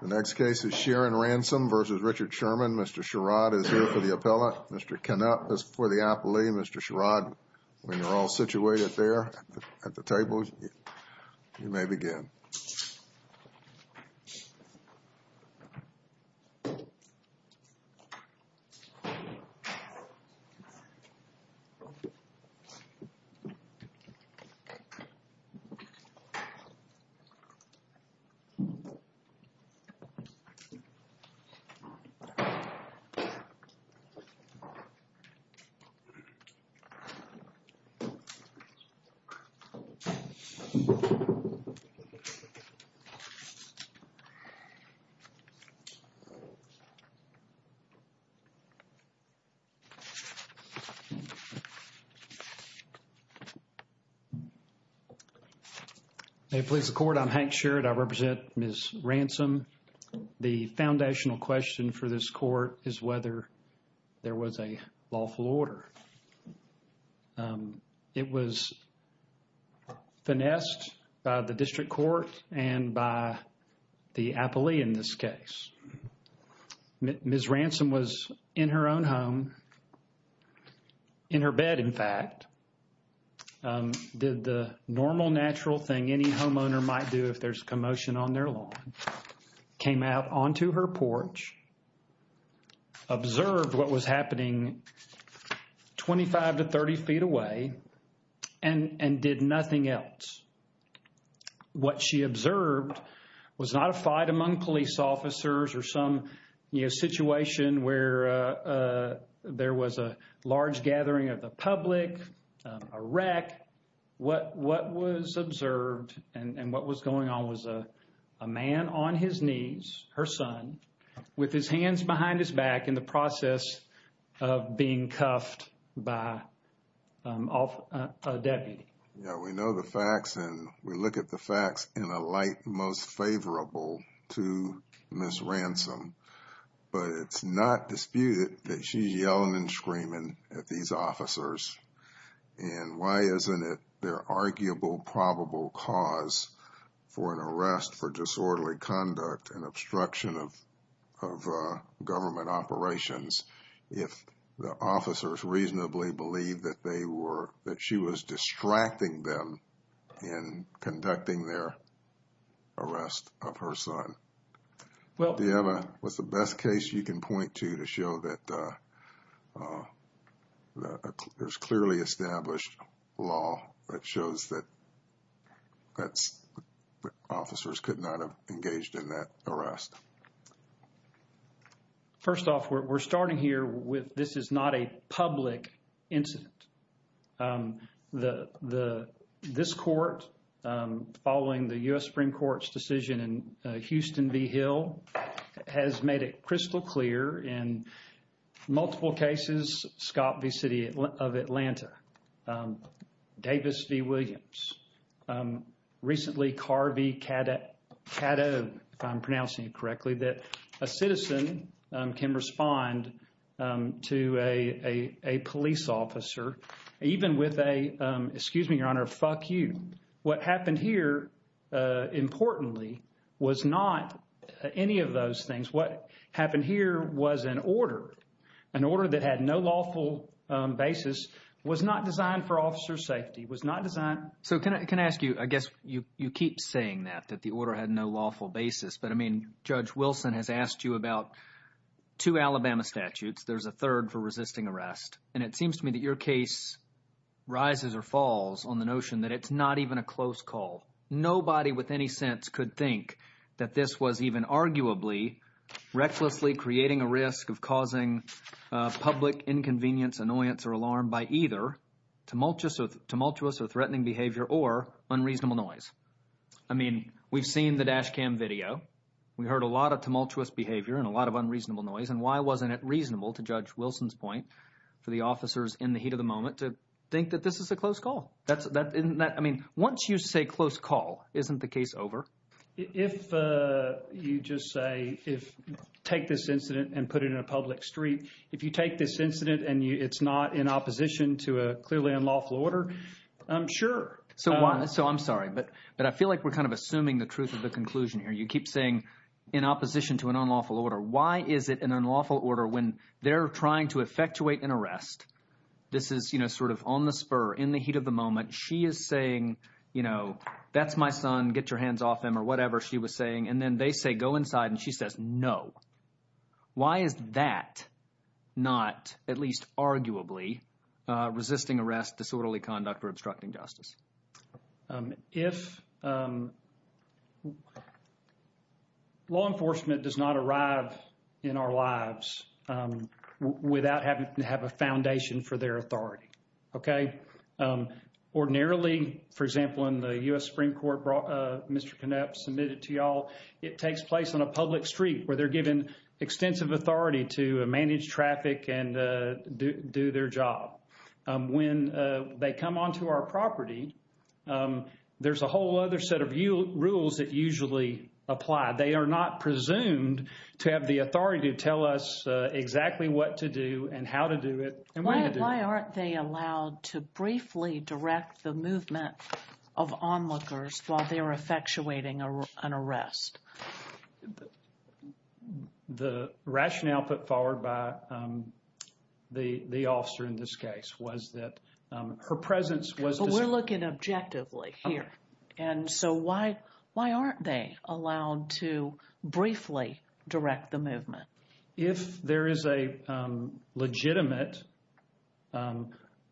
The next case is Sharon Ransom v. Richard Sherman. Mr. Sherrod is here for the appellate. Mr. Canup is for the appellee. Mr. Sherrod, when you're all situated there at the table, you may begin. Thank you. Thank you. Good morning, please, the court. I'm Hank Sherrod. I represent Ms. Ransom. The foundational question for this court is whether there was a lawful order. It was finessed by the district court and by the appellee in this case. Ms. Ransom was in her own home, in her bed in fact, did the normal natural thing any homeowner might do if there's commotion on their lawn, came out onto her porch, observed what was happening 25 to 30 feet away and did nothing else. What she observed was not a fight among police officers or some, you know, situation where there was a large gathering of the public, a wreck. What was observed and what was going on was a man on his knees, her son, with his hands behind his back in the process of being cuffed by a deputy. Yeah, we know the facts and we look at the facts in a light most favorable to Ms. Ransom. But it's not disputed that she's yelling and screaming at these officers. And why isn't it their arguable probable cause for an arrest for disorderly conduct and obstruction of government operations if the officers reasonably believe that they were, that she was distracting them in conducting their arrest of her son? Do you have a, what's the best case you can point to to show that there's clearly established law that shows that officers could not have engaged in that arrest? First off, we're starting here with this is not a public incident. The, this court following the U.S. Supreme Court's decision in Houston v. Hill has made it crystal clear in multiple cases, Scott v. City of Atlanta, Davis v. Williams, recently Carvey Caddo, if I'm pronouncing it correctly, that a citizen can respond to a police officer, even with a, excuse me, Your Honor, fuck you. What happened here, importantly, was not any of those things. What happened here was an order, an order that had no lawful basis, was not designed for officer's safety, was not designed. So can I ask you, I guess you keep saying that, that the order had no lawful basis. But I mean, Judge Wilson has asked you about two Alabama statutes. There's a third for resisting arrest. And it seems to me that your case rises or falls on the notion that it's not even a close call. Nobody with any sense could think that this was even arguably recklessly creating a risk of causing public inconvenience, annoyance, or alarm by either tumultuous or threatening behavior or unreasonable noise. I mean, we've seen the dash cam video. We heard a lot of tumultuous behavior and a lot of unreasonable noise. And why wasn't it reasonable, to Judge Wilson's point, for the officers in the heat of the moment to think that this is a close call? I mean, once you say close call, isn't the case over? If you just say, take this incident and put it in a public street, if you take this incident and it's not in opposition to a clearly unlawful order, I'm sure. So I'm sorry, but I feel like we're kind of assuming the truth of the conclusion here. You keep saying in opposition to an unlawful order. Why is it an unlawful order when they're trying to effectuate an arrest? This is sort of on the spur, in the heat of the moment. She is saying, you know, that's my son. Get your hands off him or whatever she was saying. And then they say, go inside. And she says, no. Why is that not, at least arguably, resisting arrest, disorderly conduct, or obstructing justice? If law enforcement does not arrive in our lives without having to have a foundation for their authority, OK? Ordinarily, for example, in the U.S. Supreme Court, Mr. Knapp submitted to you all, it takes place on a public street where they're given extensive authority to manage traffic and do their job. When they come onto our property, there's a whole other set of rules that usually apply. They are not presumed to have the authority to tell us exactly what to do and how to do it. And why aren't they allowed to briefly direct the movement of onlookers while they are effectuating an arrest? The rationale put forward by the officer in this case was that her presence was... But we're looking objectively here. And so why aren't they allowed to briefly direct the movement? If there is a legitimate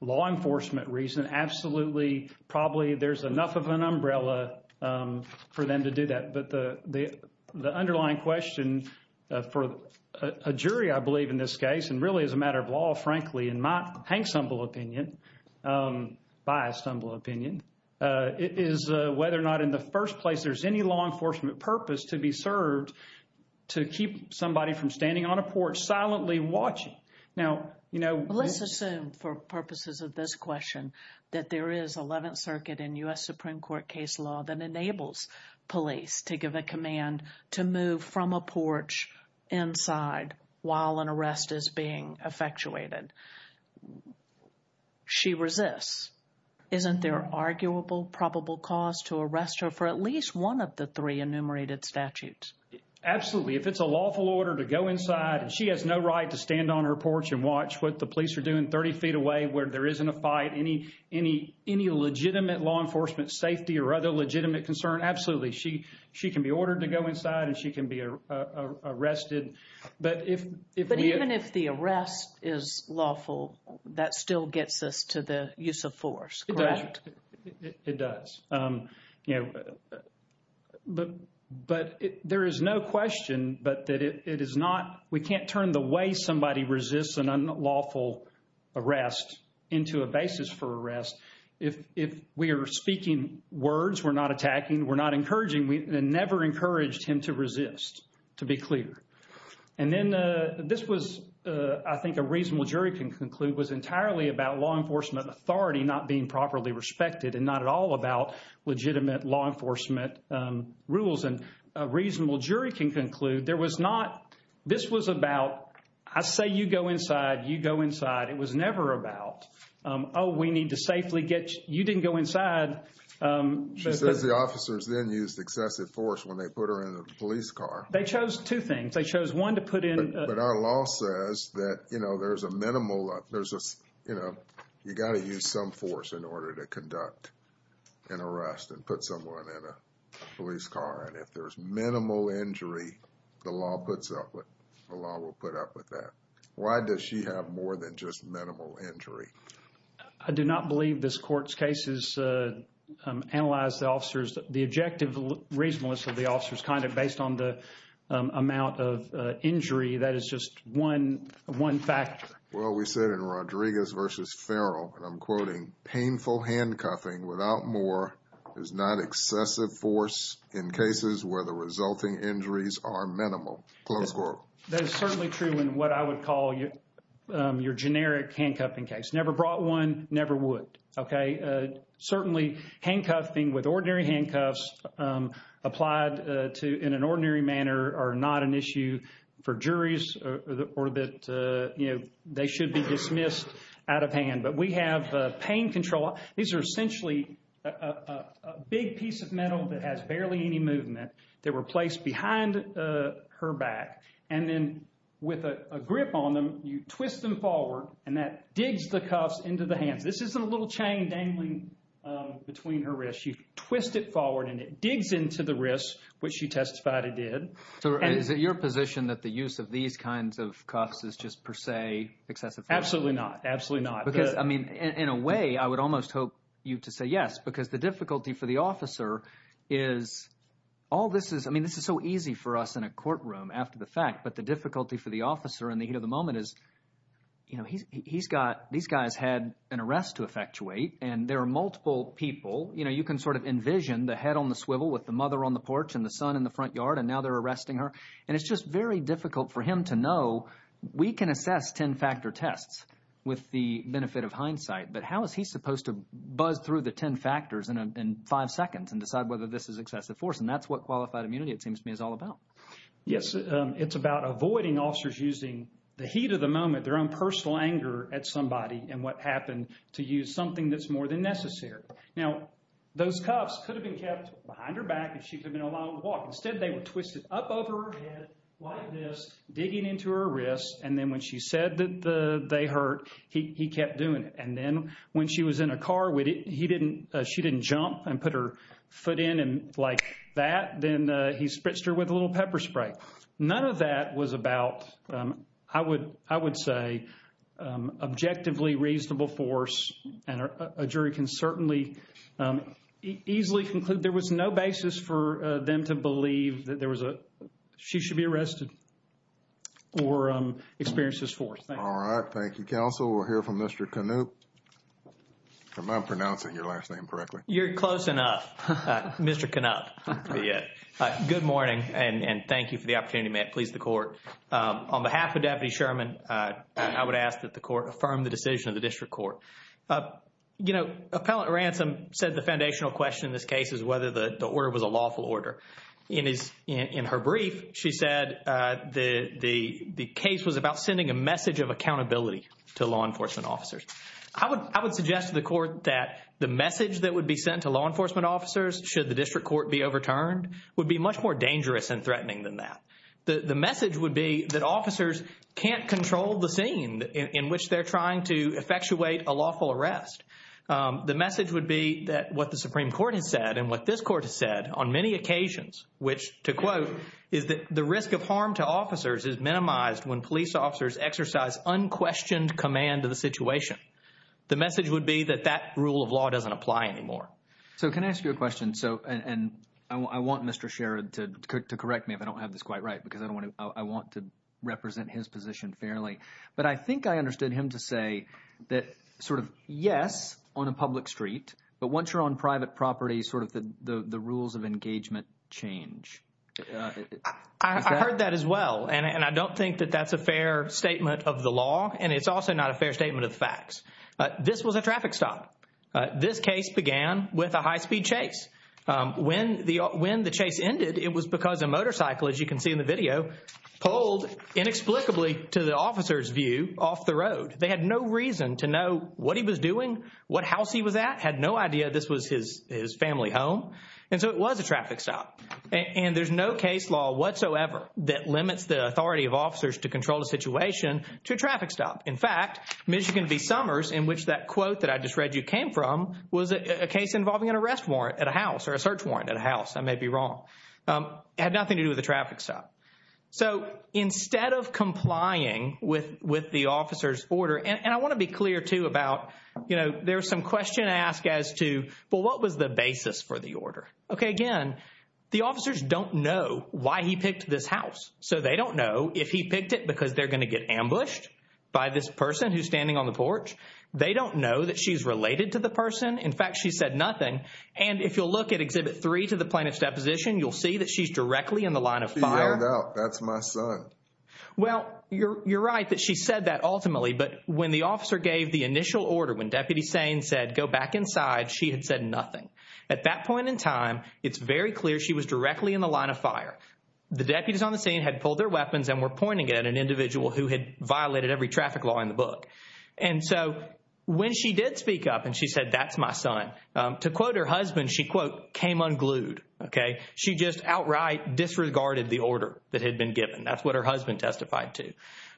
law enforcement reason, absolutely, probably there's enough of an umbrella for them to do that. But the underlying question for a jury, I believe, in this case, and really as a matter of law, frankly, in my humble opinion, biased, humble opinion, is whether or not in the first place there's any law enforcement purpose to be served to keep somebody from standing on a porch silently watching. Let's assume, for purposes of this question, that there is 11th Circuit and U.S. Supreme Court case law that enables police to give a command to move from a porch inside while an arrest is being effectuated. She resists. Isn't there an arguable, probable cause to arrest her for at least one of the three enumerated statutes? Absolutely. If it's a lawful order to go inside and she has no right to stand on her porch and watch what the police are doing 30 feet away where there isn't a fight, any legitimate law enforcement safety or other legitimate concern, absolutely. She can be ordered to go inside and she can be arrested. But even if the arrest is lawful, that still gets us to the use of force, correct? It does. But there is no question that it is not – we can't turn the way somebody resists an unlawful arrest into a basis for arrest. If we are speaking words, we're not attacking, we're not encouraging, we never encouraged him to resist, to be clear. And then this was, I think a reasonable jury can conclude, was entirely about law enforcement authority not being properly respected and not at all about legitimate law enforcement rules. And a reasonable jury can conclude there was not – this was about, I say you go inside, you go inside. It was never about, oh, we need to safely get – you didn't go inside. She says the officers then used excessive force when they put her in the police car. They chose two things. They chose one to put in – But our law says that, you know, there's a minimal – there's a, you know, you got to use some force in order to conduct an arrest and put someone in a police car. And if there's minimal injury, the law puts up with – the law will put up with that. Why does she have more than just minimal injury? I do not believe this court's case has analyzed the officers. The objective reasonableness of the officers kind of based on the amount of injury, that is just one factor. Well, we said in Rodriguez v. Farrell, and I'm quoting, painful handcuffing without more is not excessive force in cases where the resulting injuries are minimal. Close quote. That is certainly true in what I would call your generic handcuffing case. Never brought one, never would. Okay. Certainly, handcuffing with ordinary handcuffs applied to – in an ordinary manner are not an issue for juries or that, you know, they should be dismissed out of hand. But we have pain control. These are essentially a big piece of metal that has barely any movement. They were placed behind her back. And then with a grip on them, you twist them forward, and that digs the cuffs into the hands. This isn't a little chain dangling between her wrists. You twist it forward, and it digs into the wrists, which you testified it did. So is it your position that the use of these kinds of cuffs is just per se excessive force? Absolutely not. Absolutely not. Because, I mean, in a way, I would almost hope you to say yes because the difficulty for the officer is all this is – I mean this is so easy for us in a courtroom after the fact. But the difficulty for the officer in the heat of the moment is he's got – these guys had an arrest to effectuate, and there are multiple people. You can sort of envision the head on the swivel with the mother on the porch and the son in the front yard, and now they're arresting her. And it's just very difficult for him to know. We can assess ten-factor tests with the benefit of hindsight, but how is he supposed to buzz through the ten factors in five seconds and decide whether this is excessive force? And that's what qualified immunity, it seems to me, is all about. Yes, it's about avoiding officers using the heat of the moment, their own personal anger at somebody and what happened, to use something that's more than necessary. Now, those cuffs could have been kept behind her back if she could have been allowed to walk. Instead, they were twisted up over her head like this, digging into her wrists, and then when she said that they hurt, he kept doing it. And then when she was in a car, he didn't – she didn't jump and put her foot in like that. Then he spritzed her with a little pepper spray. None of that was about, I would say, objectively reasonable force. And a jury can certainly easily conclude there was no basis for them to believe that there was a – she should be arrested or experienced this force. All right, thank you, counsel. We'll hear from Mr. Knupp. Am I pronouncing your last name correctly? You're close enough, Mr. Knupp. Good morning and thank you for the opportunity, Matt. Please, the court. On behalf of Deputy Sherman, I would ask that the court affirm the decision of the district court. You know, Appellant Ransom said the foundational question in this case is whether the order was a lawful order. In her brief, she said the case was about sending a message of accountability to law enforcement officers. I would suggest to the court that the message that would be sent to law enforcement officers should the district court be overturned would be much more dangerous and threatening than that. The message would be that officers can't control the scene in which they're trying to effectuate a lawful arrest. The message would be that what the Supreme Court has said and what this court has said on many occasions, which to quote, is that the risk of harm to officers is minimized when police officers exercise unquestioned command of the situation. The message would be that that rule of law doesn't apply anymore. So can I ask you a question? So – and I want Mr. Sherrod to correct me if I don't have this quite right because I want to represent his position fairly. But I think I understood him to say that sort of, yes, on a public street, but once you're on private property, sort of the rules of engagement change. I heard that as well, and I don't think that that's a fair statement of the law, and it's also not a fair statement of the facts. This was a traffic stop. This case began with a high-speed chase. When the chase ended, it was because a motorcycle, as you can see in the video, pulled inexplicably to the officer's view off the road. They had no reason to know what he was doing, what house he was at, had no idea this was his family home. And so it was a traffic stop. And there's no case law whatsoever that limits the authority of officers to control the situation to a traffic stop. In fact, Michigan v. Summers, in which that quote that I just read you came from, was a case involving an arrest warrant at a house or a search warrant at a house. I may be wrong. It had nothing to do with a traffic stop. So instead of complying with the officer's order – and I want to be clear, too, about, you know, there's some question to ask as to, well, what was the basis for the order? Okay, again, the officers don't know why he picked this house. So they don't know if he picked it because they're going to get ambushed by this person who's standing on the porch. They don't know that she's related to the person. In fact, she said nothing. And if you'll look at Exhibit 3 to the Plaintiff's Deposition, you'll see that she's directly in the line of fire. She zoned out. That's my son. Well, you're right that she said that ultimately. But when the officer gave the initial order, when Deputy Sane said, go back inside, she had said nothing. At that point in time, it's very clear she was directly in the line of fire. The deputies on the scene had pulled their weapons and were pointing at an individual who had violated every traffic law in the book. And so when she did speak up and she said, that's my son, to quote her husband, she, quote, came unglued, okay? She just outright disregarded the order that had been given. That's what her husband testified to.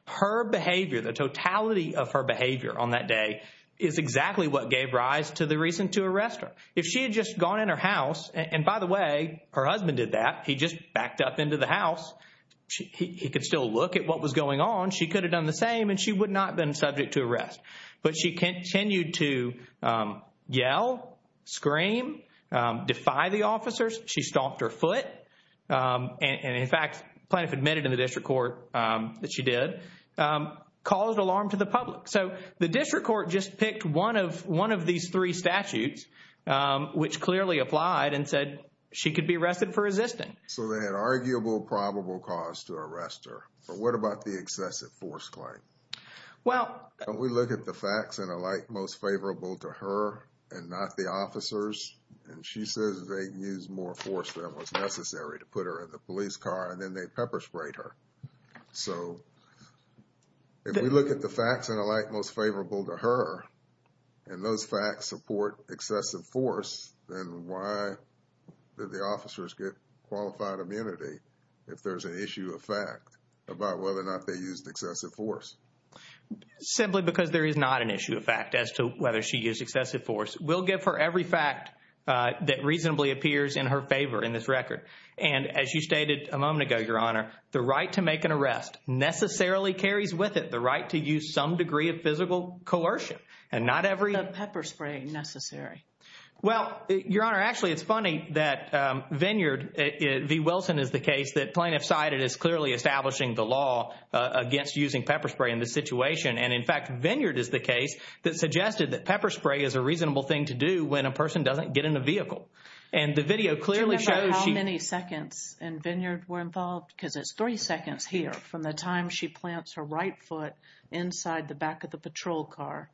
Her behavior, the totality of her behavior on that day is exactly what gave rise to the reason to arrest her. If she had just gone in her house, and by the way, her husband did that. He just backed up into the house. He could still look at what was going on. She could have done the same and she would not have been subject to arrest. But she continued to yell, scream, defy the officers. She stomped her foot. And, in fact, the Plaintiff admitted in the district court that she did, caused alarm to the public. So the district court just picked one of these three statutes, which clearly applied, and said she could be arrested for resisting. So they had arguable probable cause to arrest her. But what about the excessive force claim? Well – Don't we look at the facts and alike most favorable to her and not the officers? And she says they used more force than was necessary to put her in the police car and then they pepper sprayed her. So if we look at the facts and alike most favorable to her and those facts support excessive force, then why did the officers get qualified immunity if there's an issue of fact about whether or not they used excessive force? Simply because there is not an issue of fact as to whether she used excessive force. We'll give her every fact that reasonably appears in her favor in this record. And, as you stated a moment ago, Your Honor, the right to make an arrest necessarily carries with it the right to use some degree of physical coercion. And not every – The pepper spray necessary. Well, Your Honor, actually it's funny that Vineyard, V. Wilson, is the case that Plaintiff cited as clearly establishing the law against using pepper spray in this situation. And, in fact, Vineyard is the case that suggested that pepper spray is a reasonable thing to do when a person doesn't get in a vehicle. And the video clearly shows she – Do you remember how many seconds in Vineyard were involved? Because it's three seconds here from the time she plants her right foot inside the back of the patrol car.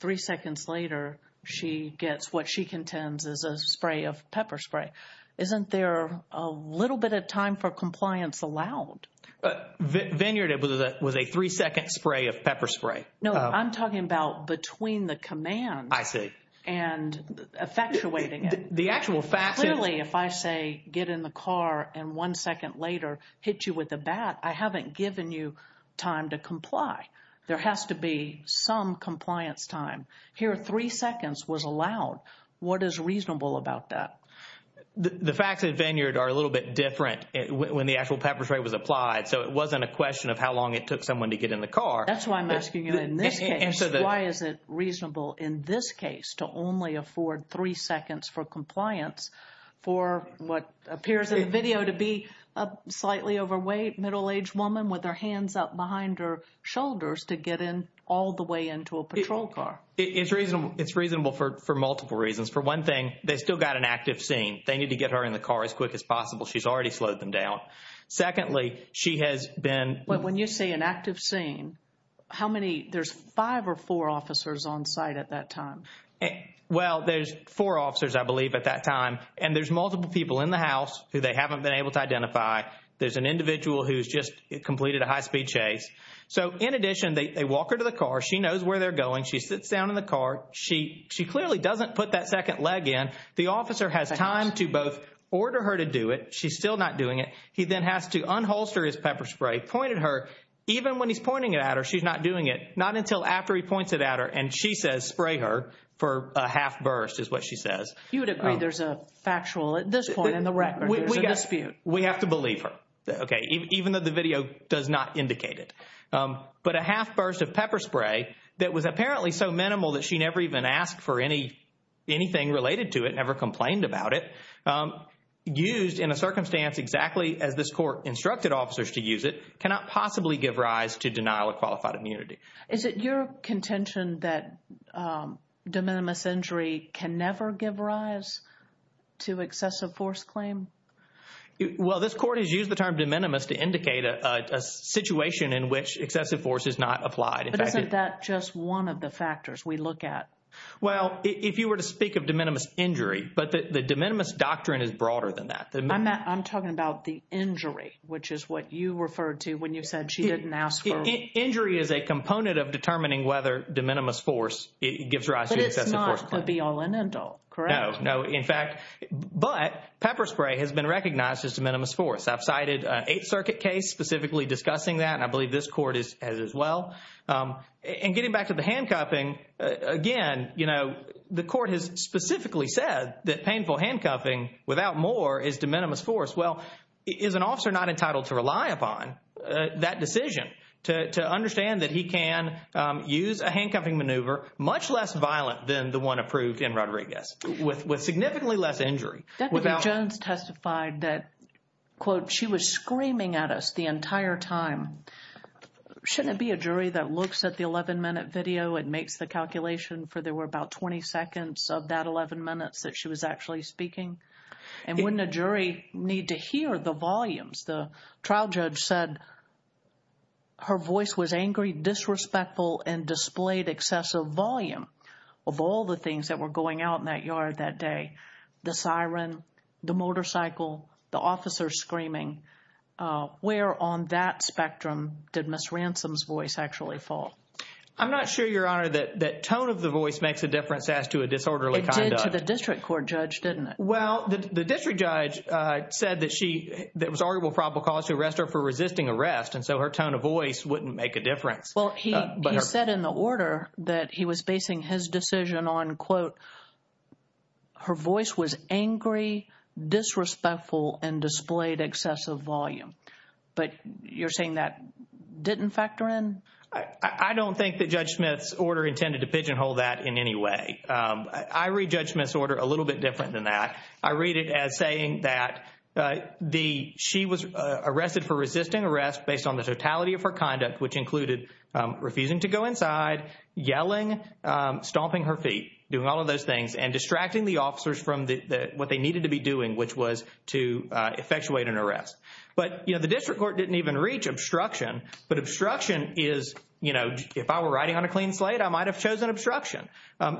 Three seconds later she gets what she contends is a spray of pepper spray. Isn't there a little bit of time for compliance allowed? Vineyard was a three-second spray of pepper spray. No, I'm talking about between the commands. I see. And effectuating it. The actual fact is – Clearly, if I say get in the car and one second later hit you with a bat, I haven't given you time to comply. There has to be some compliance time. Here, three seconds was allowed. What is reasonable about that? The facts at Vineyard are a little bit different when the actual pepper spray was applied. So, it wasn't a question of how long it took someone to get in the car. That's why I'm asking you in this case. Why is it reasonable in this case to only afford three seconds for compliance for what appears in the video to be a slightly overweight middle-aged woman with her hands up behind her shoulders to get in all the way into a patrol car? It's reasonable for multiple reasons. For one thing, they still got an active scene. They need to get her in the car as quick as possible. She's already slowed them down. Secondly, she has been – So, when you say an active scene, how many – there's five or four officers on site at that time? Well, there's four officers, I believe, at that time. And there's multiple people in the house who they haven't been able to identify. There's an individual who's just completed a high-speed chase. So, in addition, they walk her to the car. She knows where they're going. She sits down in the car. She clearly doesn't put that second leg in. The officer has time to both order her to do it. She's still not doing it. He then has to unholster his pepper spray, point at her. Even when he's pointing it at her, she's not doing it. Not until after he points it at her and she says spray her for a half burst is what she says. You would agree there's a factual – at this point in the record, there's a dispute. We have to believe her, okay, even though the video does not indicate it. But a half burst of pepper spray that was apparently so minimal that she never even asked for anything related to it, never complained about it, used in a circumstance exactly as this court instructed officers to use it, cannot possibly give rise to denial of qualified immunity. Is it your contention that de minimis injury can never give rise to excessive force claim? Well, this court has used the term de minimis to indicate a situation in which excessive force is not applied. But isn't that just one of the factors we look at? Well, if you were to speak of de minimis injury, but the de minimis doctrine is broader than that. I'm talking about the injury, which is what you referred to when you said she didn't ask for – Injury is a component of determining whether de minimis force gives rise to excessive force claim. But it's not going to be all in and all, correct? No, in fact – but pepper spray has been recognized as de minimis force. I've cited an Eighth Circuit case specifically discussing that, and I believe this court has as well. And getting back to the handcuffing, again, you know, the court has specifically said that painful handcuffing without more is de minimis force. Well, is an officer not entitled to rely upon that decision to understand that he can use a handcuffing maneuver much less violent than the one approved in Rodriguez with significantly less injury? Deputy Jones testified that, quote, she was screaming at us the entire time. Shouldn't it be a jury that looks at the 11-minute video and makes the calculation for there were about 20 seconds of that 11 minutes that she was actually speaking? And wouldn't a jury need to hear the volumes? The trial judge said her voice was angry, disrespectful, and displayed excessive volume of all the things that were going out in that yard that day – the siren, the motorcycle, the officer screaming. Where on that spectrum did Ms. Ransom's voice actually fall? I'm not sure, Your Honor, that tone of the voice makes a difference as to a disorderly conduct. It did to the district court judge, didn't it? Well, the district judge said that she – there was arguable probable cause to arrest her for resisting arrest, and so her tone of voice wouldn't make a difference. Well, he said in the order that he was basing his decision on, quote, her voice was angry, disrespectful, and displayed excessive volume. But you're saying that didn't factor in? I don't think that Judge Smith's order intended to pigeonhole that in any way. I read Judge Smith's order a little bit different than that. I read it as saying that the – she was arrested for resisting arrest based on the totality of her conduct, which included refusing to go inside, yelling, stomping her feet, doing all of those things, and distracting the officers from what they needed to be doing, which was to effectuate an arrest. But the district court didn't even reach obstruction, but obstruction is – if I were riding on a clean slate, I might have chosen obstruction.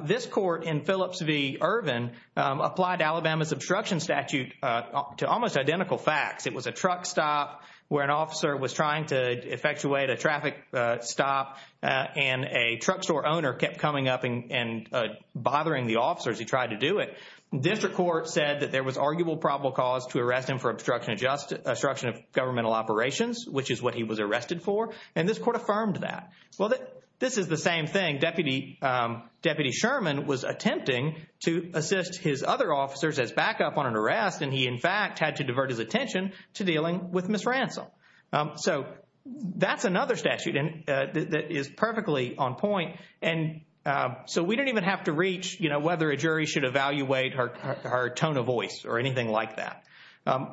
This court in Phillips v. Irvin applied Alabama's obstruction statute to almost identical facts. It was a truck stop where an officer was trying to effectuate a traffic stop, and a truck store owner kept coming up and bothering the officer as he tried to do it. District court said that there was arguable probable cause to arrest him for obstruction of governmental operations, which is what he was arrested for, and this court affirmed that. Well, this is the same thing. Deputy Sherman was attempting to assist his other officers as backup on an arrest, and he in fact had to divert his attention to dealing with misransom. So that's another statute that is perfectly on point, and so we don't even have to reach whether a jury should evaluate her tone of voice or anything like that.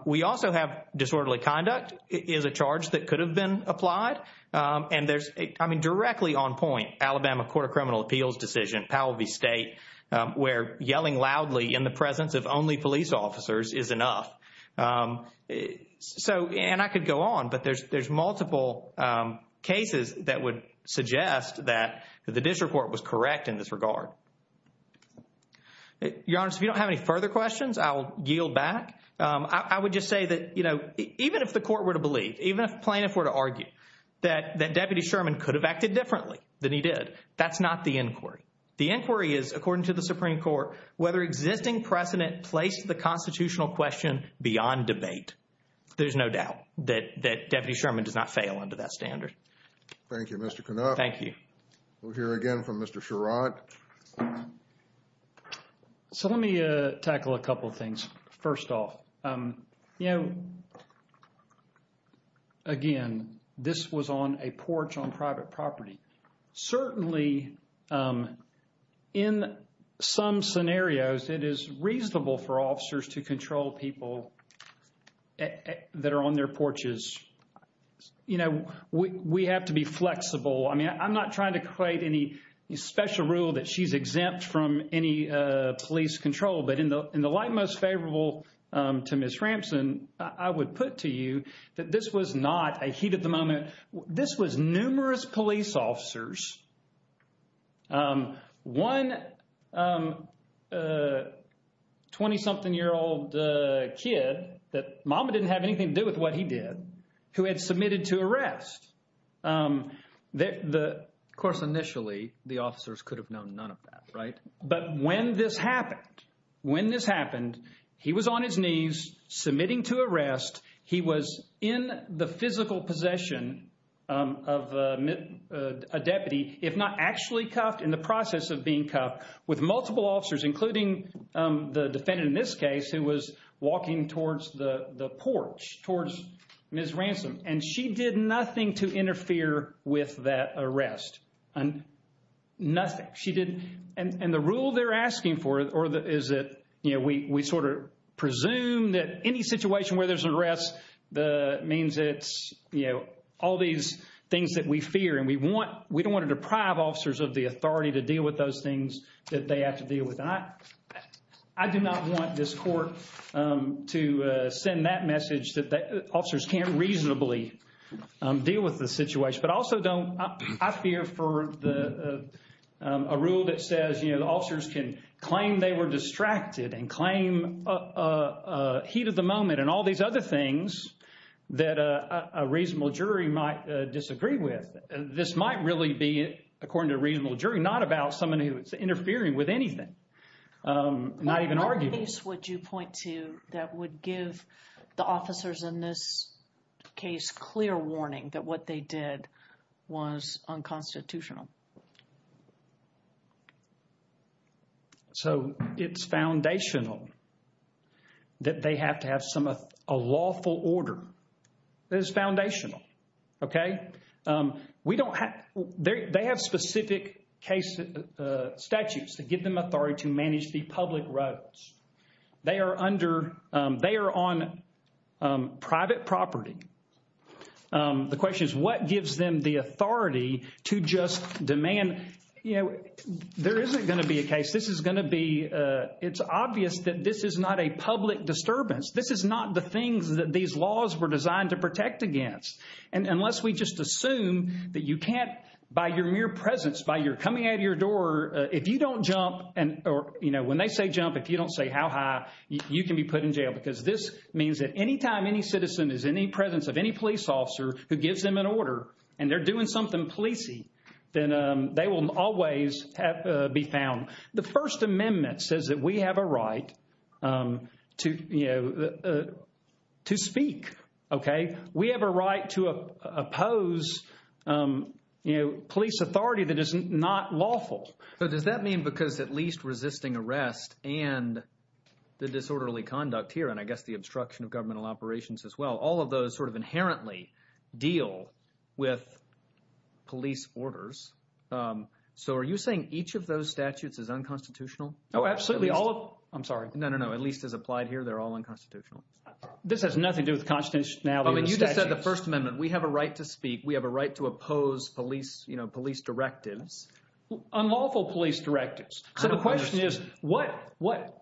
We also have disorderly conduct is a charge that could have been applied. And there's – I mean, directly on point, Alabama Court of Criminal Appeals decision, Powell v. State, where yelling loudly in the presence of only police officers is enough. So – and I could go on, but there's multiple cases that would suggest that the district court was correct in this regard. Your Honor, if you don't have any further questions, I will yield back. I would just say that, you know, even if the court were to believe, even if plaintiffs were to argue that Deputy Sherman could have acted differently than he did, that's not the inquiry. The inquiry is, according to the Supreme Court, whether existing precedent placed the constitutional question beyond debate. There's no doubt that Deputy Sherman does not fail under that standard. Thank you, Mr. Canuff. Thank you. We'll hear again from Mr. Sherrod. So let me tackle a couple of things. First off, you know, again, this was on a porch on private property. Certainly, in some scenarios, it is reasonable for officers to control people that are on their porches. You know, we have to be flexible. I mean, I'm not trying to create any special rule that she's exempt from any police control. But in the light most favorable to Ms. Ramson, I would put to you that this was not a heat of the moment. This was numerous police officers, one 20-something-year-old kid that – mama didn't have anything to do with what he did – who had submitted to arrest. Of course, initially, the officers could have known none of that, right? But when this happened, when this happened, he was on his knees submitting to arrest. He was in the physical possession of a deputy, if not actually cuffed, in the process of being cuffed with multiple officers, including the defendant in this case who was walking towards the porch, towards Ms. Ramson. And she did nothing to interfere with that arrest. Nothing. She didn't. And the rule they're asking for is that, you know, we sort of presume that any situation where there's an arrest means it's, you know, all these things that we fear. And we want – we don't want to deprive officers of the authority to deal with those things that they have to deal with. And I do not want this court to send that message that officers can't reasonably deal with the situation. But I also don't – I fear for a rule that says, you know, the officers can claim they were distracted and claim heat of the moment and all these other things that a reasonable jury might disagree with. This might really be, according to a reasonable jury, not about someone who is interfering with anything, not even arguing. What piece would you point to that would give the officers in this case clear warning that what they did was unconstitutional? So it's foundational that they have to have some – a lawful order. It is foundational. Okay? We don't – they have specific case statutes that give them authority to manage the public roads. They are under – they are on private property. The question is what gives them the authority to just demand – you know, there isn't going to be a case. This is going to be – it's obvious that this is not a public disturbance. This is not the things that these laws were designed to protect against. And unless we just assume that you can't, by your mere presence, by your coming out of your door, if you don't jump and – or, you know, when they say jump, if you don't say how high, you can be put in jail. Because this means that any time any citizen is in the presence of any police officer who gives them an order and they're doing something policey, then they will always be found. The First Amendment says that we have a right to speak. Okay? We have a right to oppose police authority that is not lawful. So does that mean because at least resisting arrest and the disorderly conduct here and I guess the obstruction of governmental operations as well, all of those sort of inherently deal with police orders? So are you saying each of those statutes is unconstitutional? Oh, absolutely. I'm sorry. No, no, no. At least as applied here, they're all unconstitutional. This has nothing to do with constitutionality of the statutes. I mean you just said the First Amendment. We have a right to speak. We have a right to oppose police directives. Unlawful police directives. So the question is what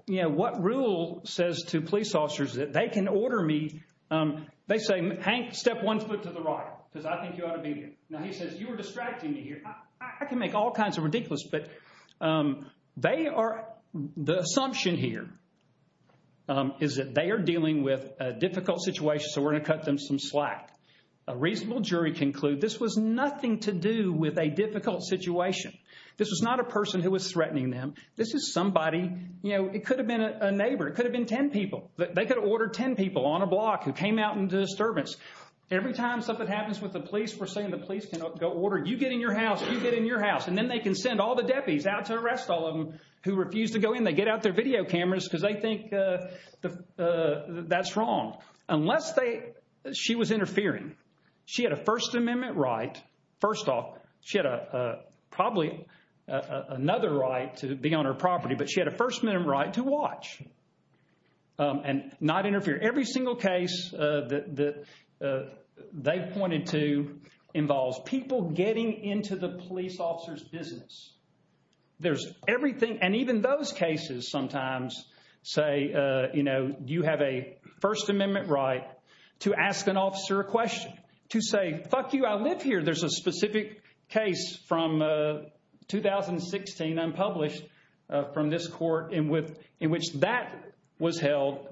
rule says to police officers that they can order me – they say, Hank, step one foot to the right because I think you ought to be here. Now he says you are distracting me here. I can make all kinds of ridiculous but they are – the assumption here is that they are dealing with a difficult situation so we're going to cut them some slack. A reasonable jury conclude this was nothing to do with a difficult situation. This was not a person who was threatening them. This is somebody – it could have been a neighbor. It could have been ten people. They could have ordered ten people on a block who came out in disturbance. Every time something happens with the police, we're saying the police can order you get in your house, you get in your house, and then they can send all the deputies out to arrest all of them who refuse to go in. They get out their video cameras because they think that's wrong. Unless they – she was interfering. She had a First Amendment right. First off, she had probably another right to be on her property but she had a First Amendment right to watch and not interfere. Every single case that they pointed to involves people getting into the police officer's business. There's everything – and even those cases sometimes say, you know, you have a First Amendment right to ask an officer a question, to say, fuck you, I live here. There's a specific case from 2016 unpublished from this court in which that was held,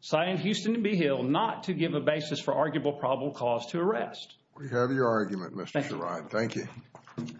citing Houston v. Beehill, not to give a basis for arguable probable cause to arrest. We have your argument, Mr. Sherrod. Thank you.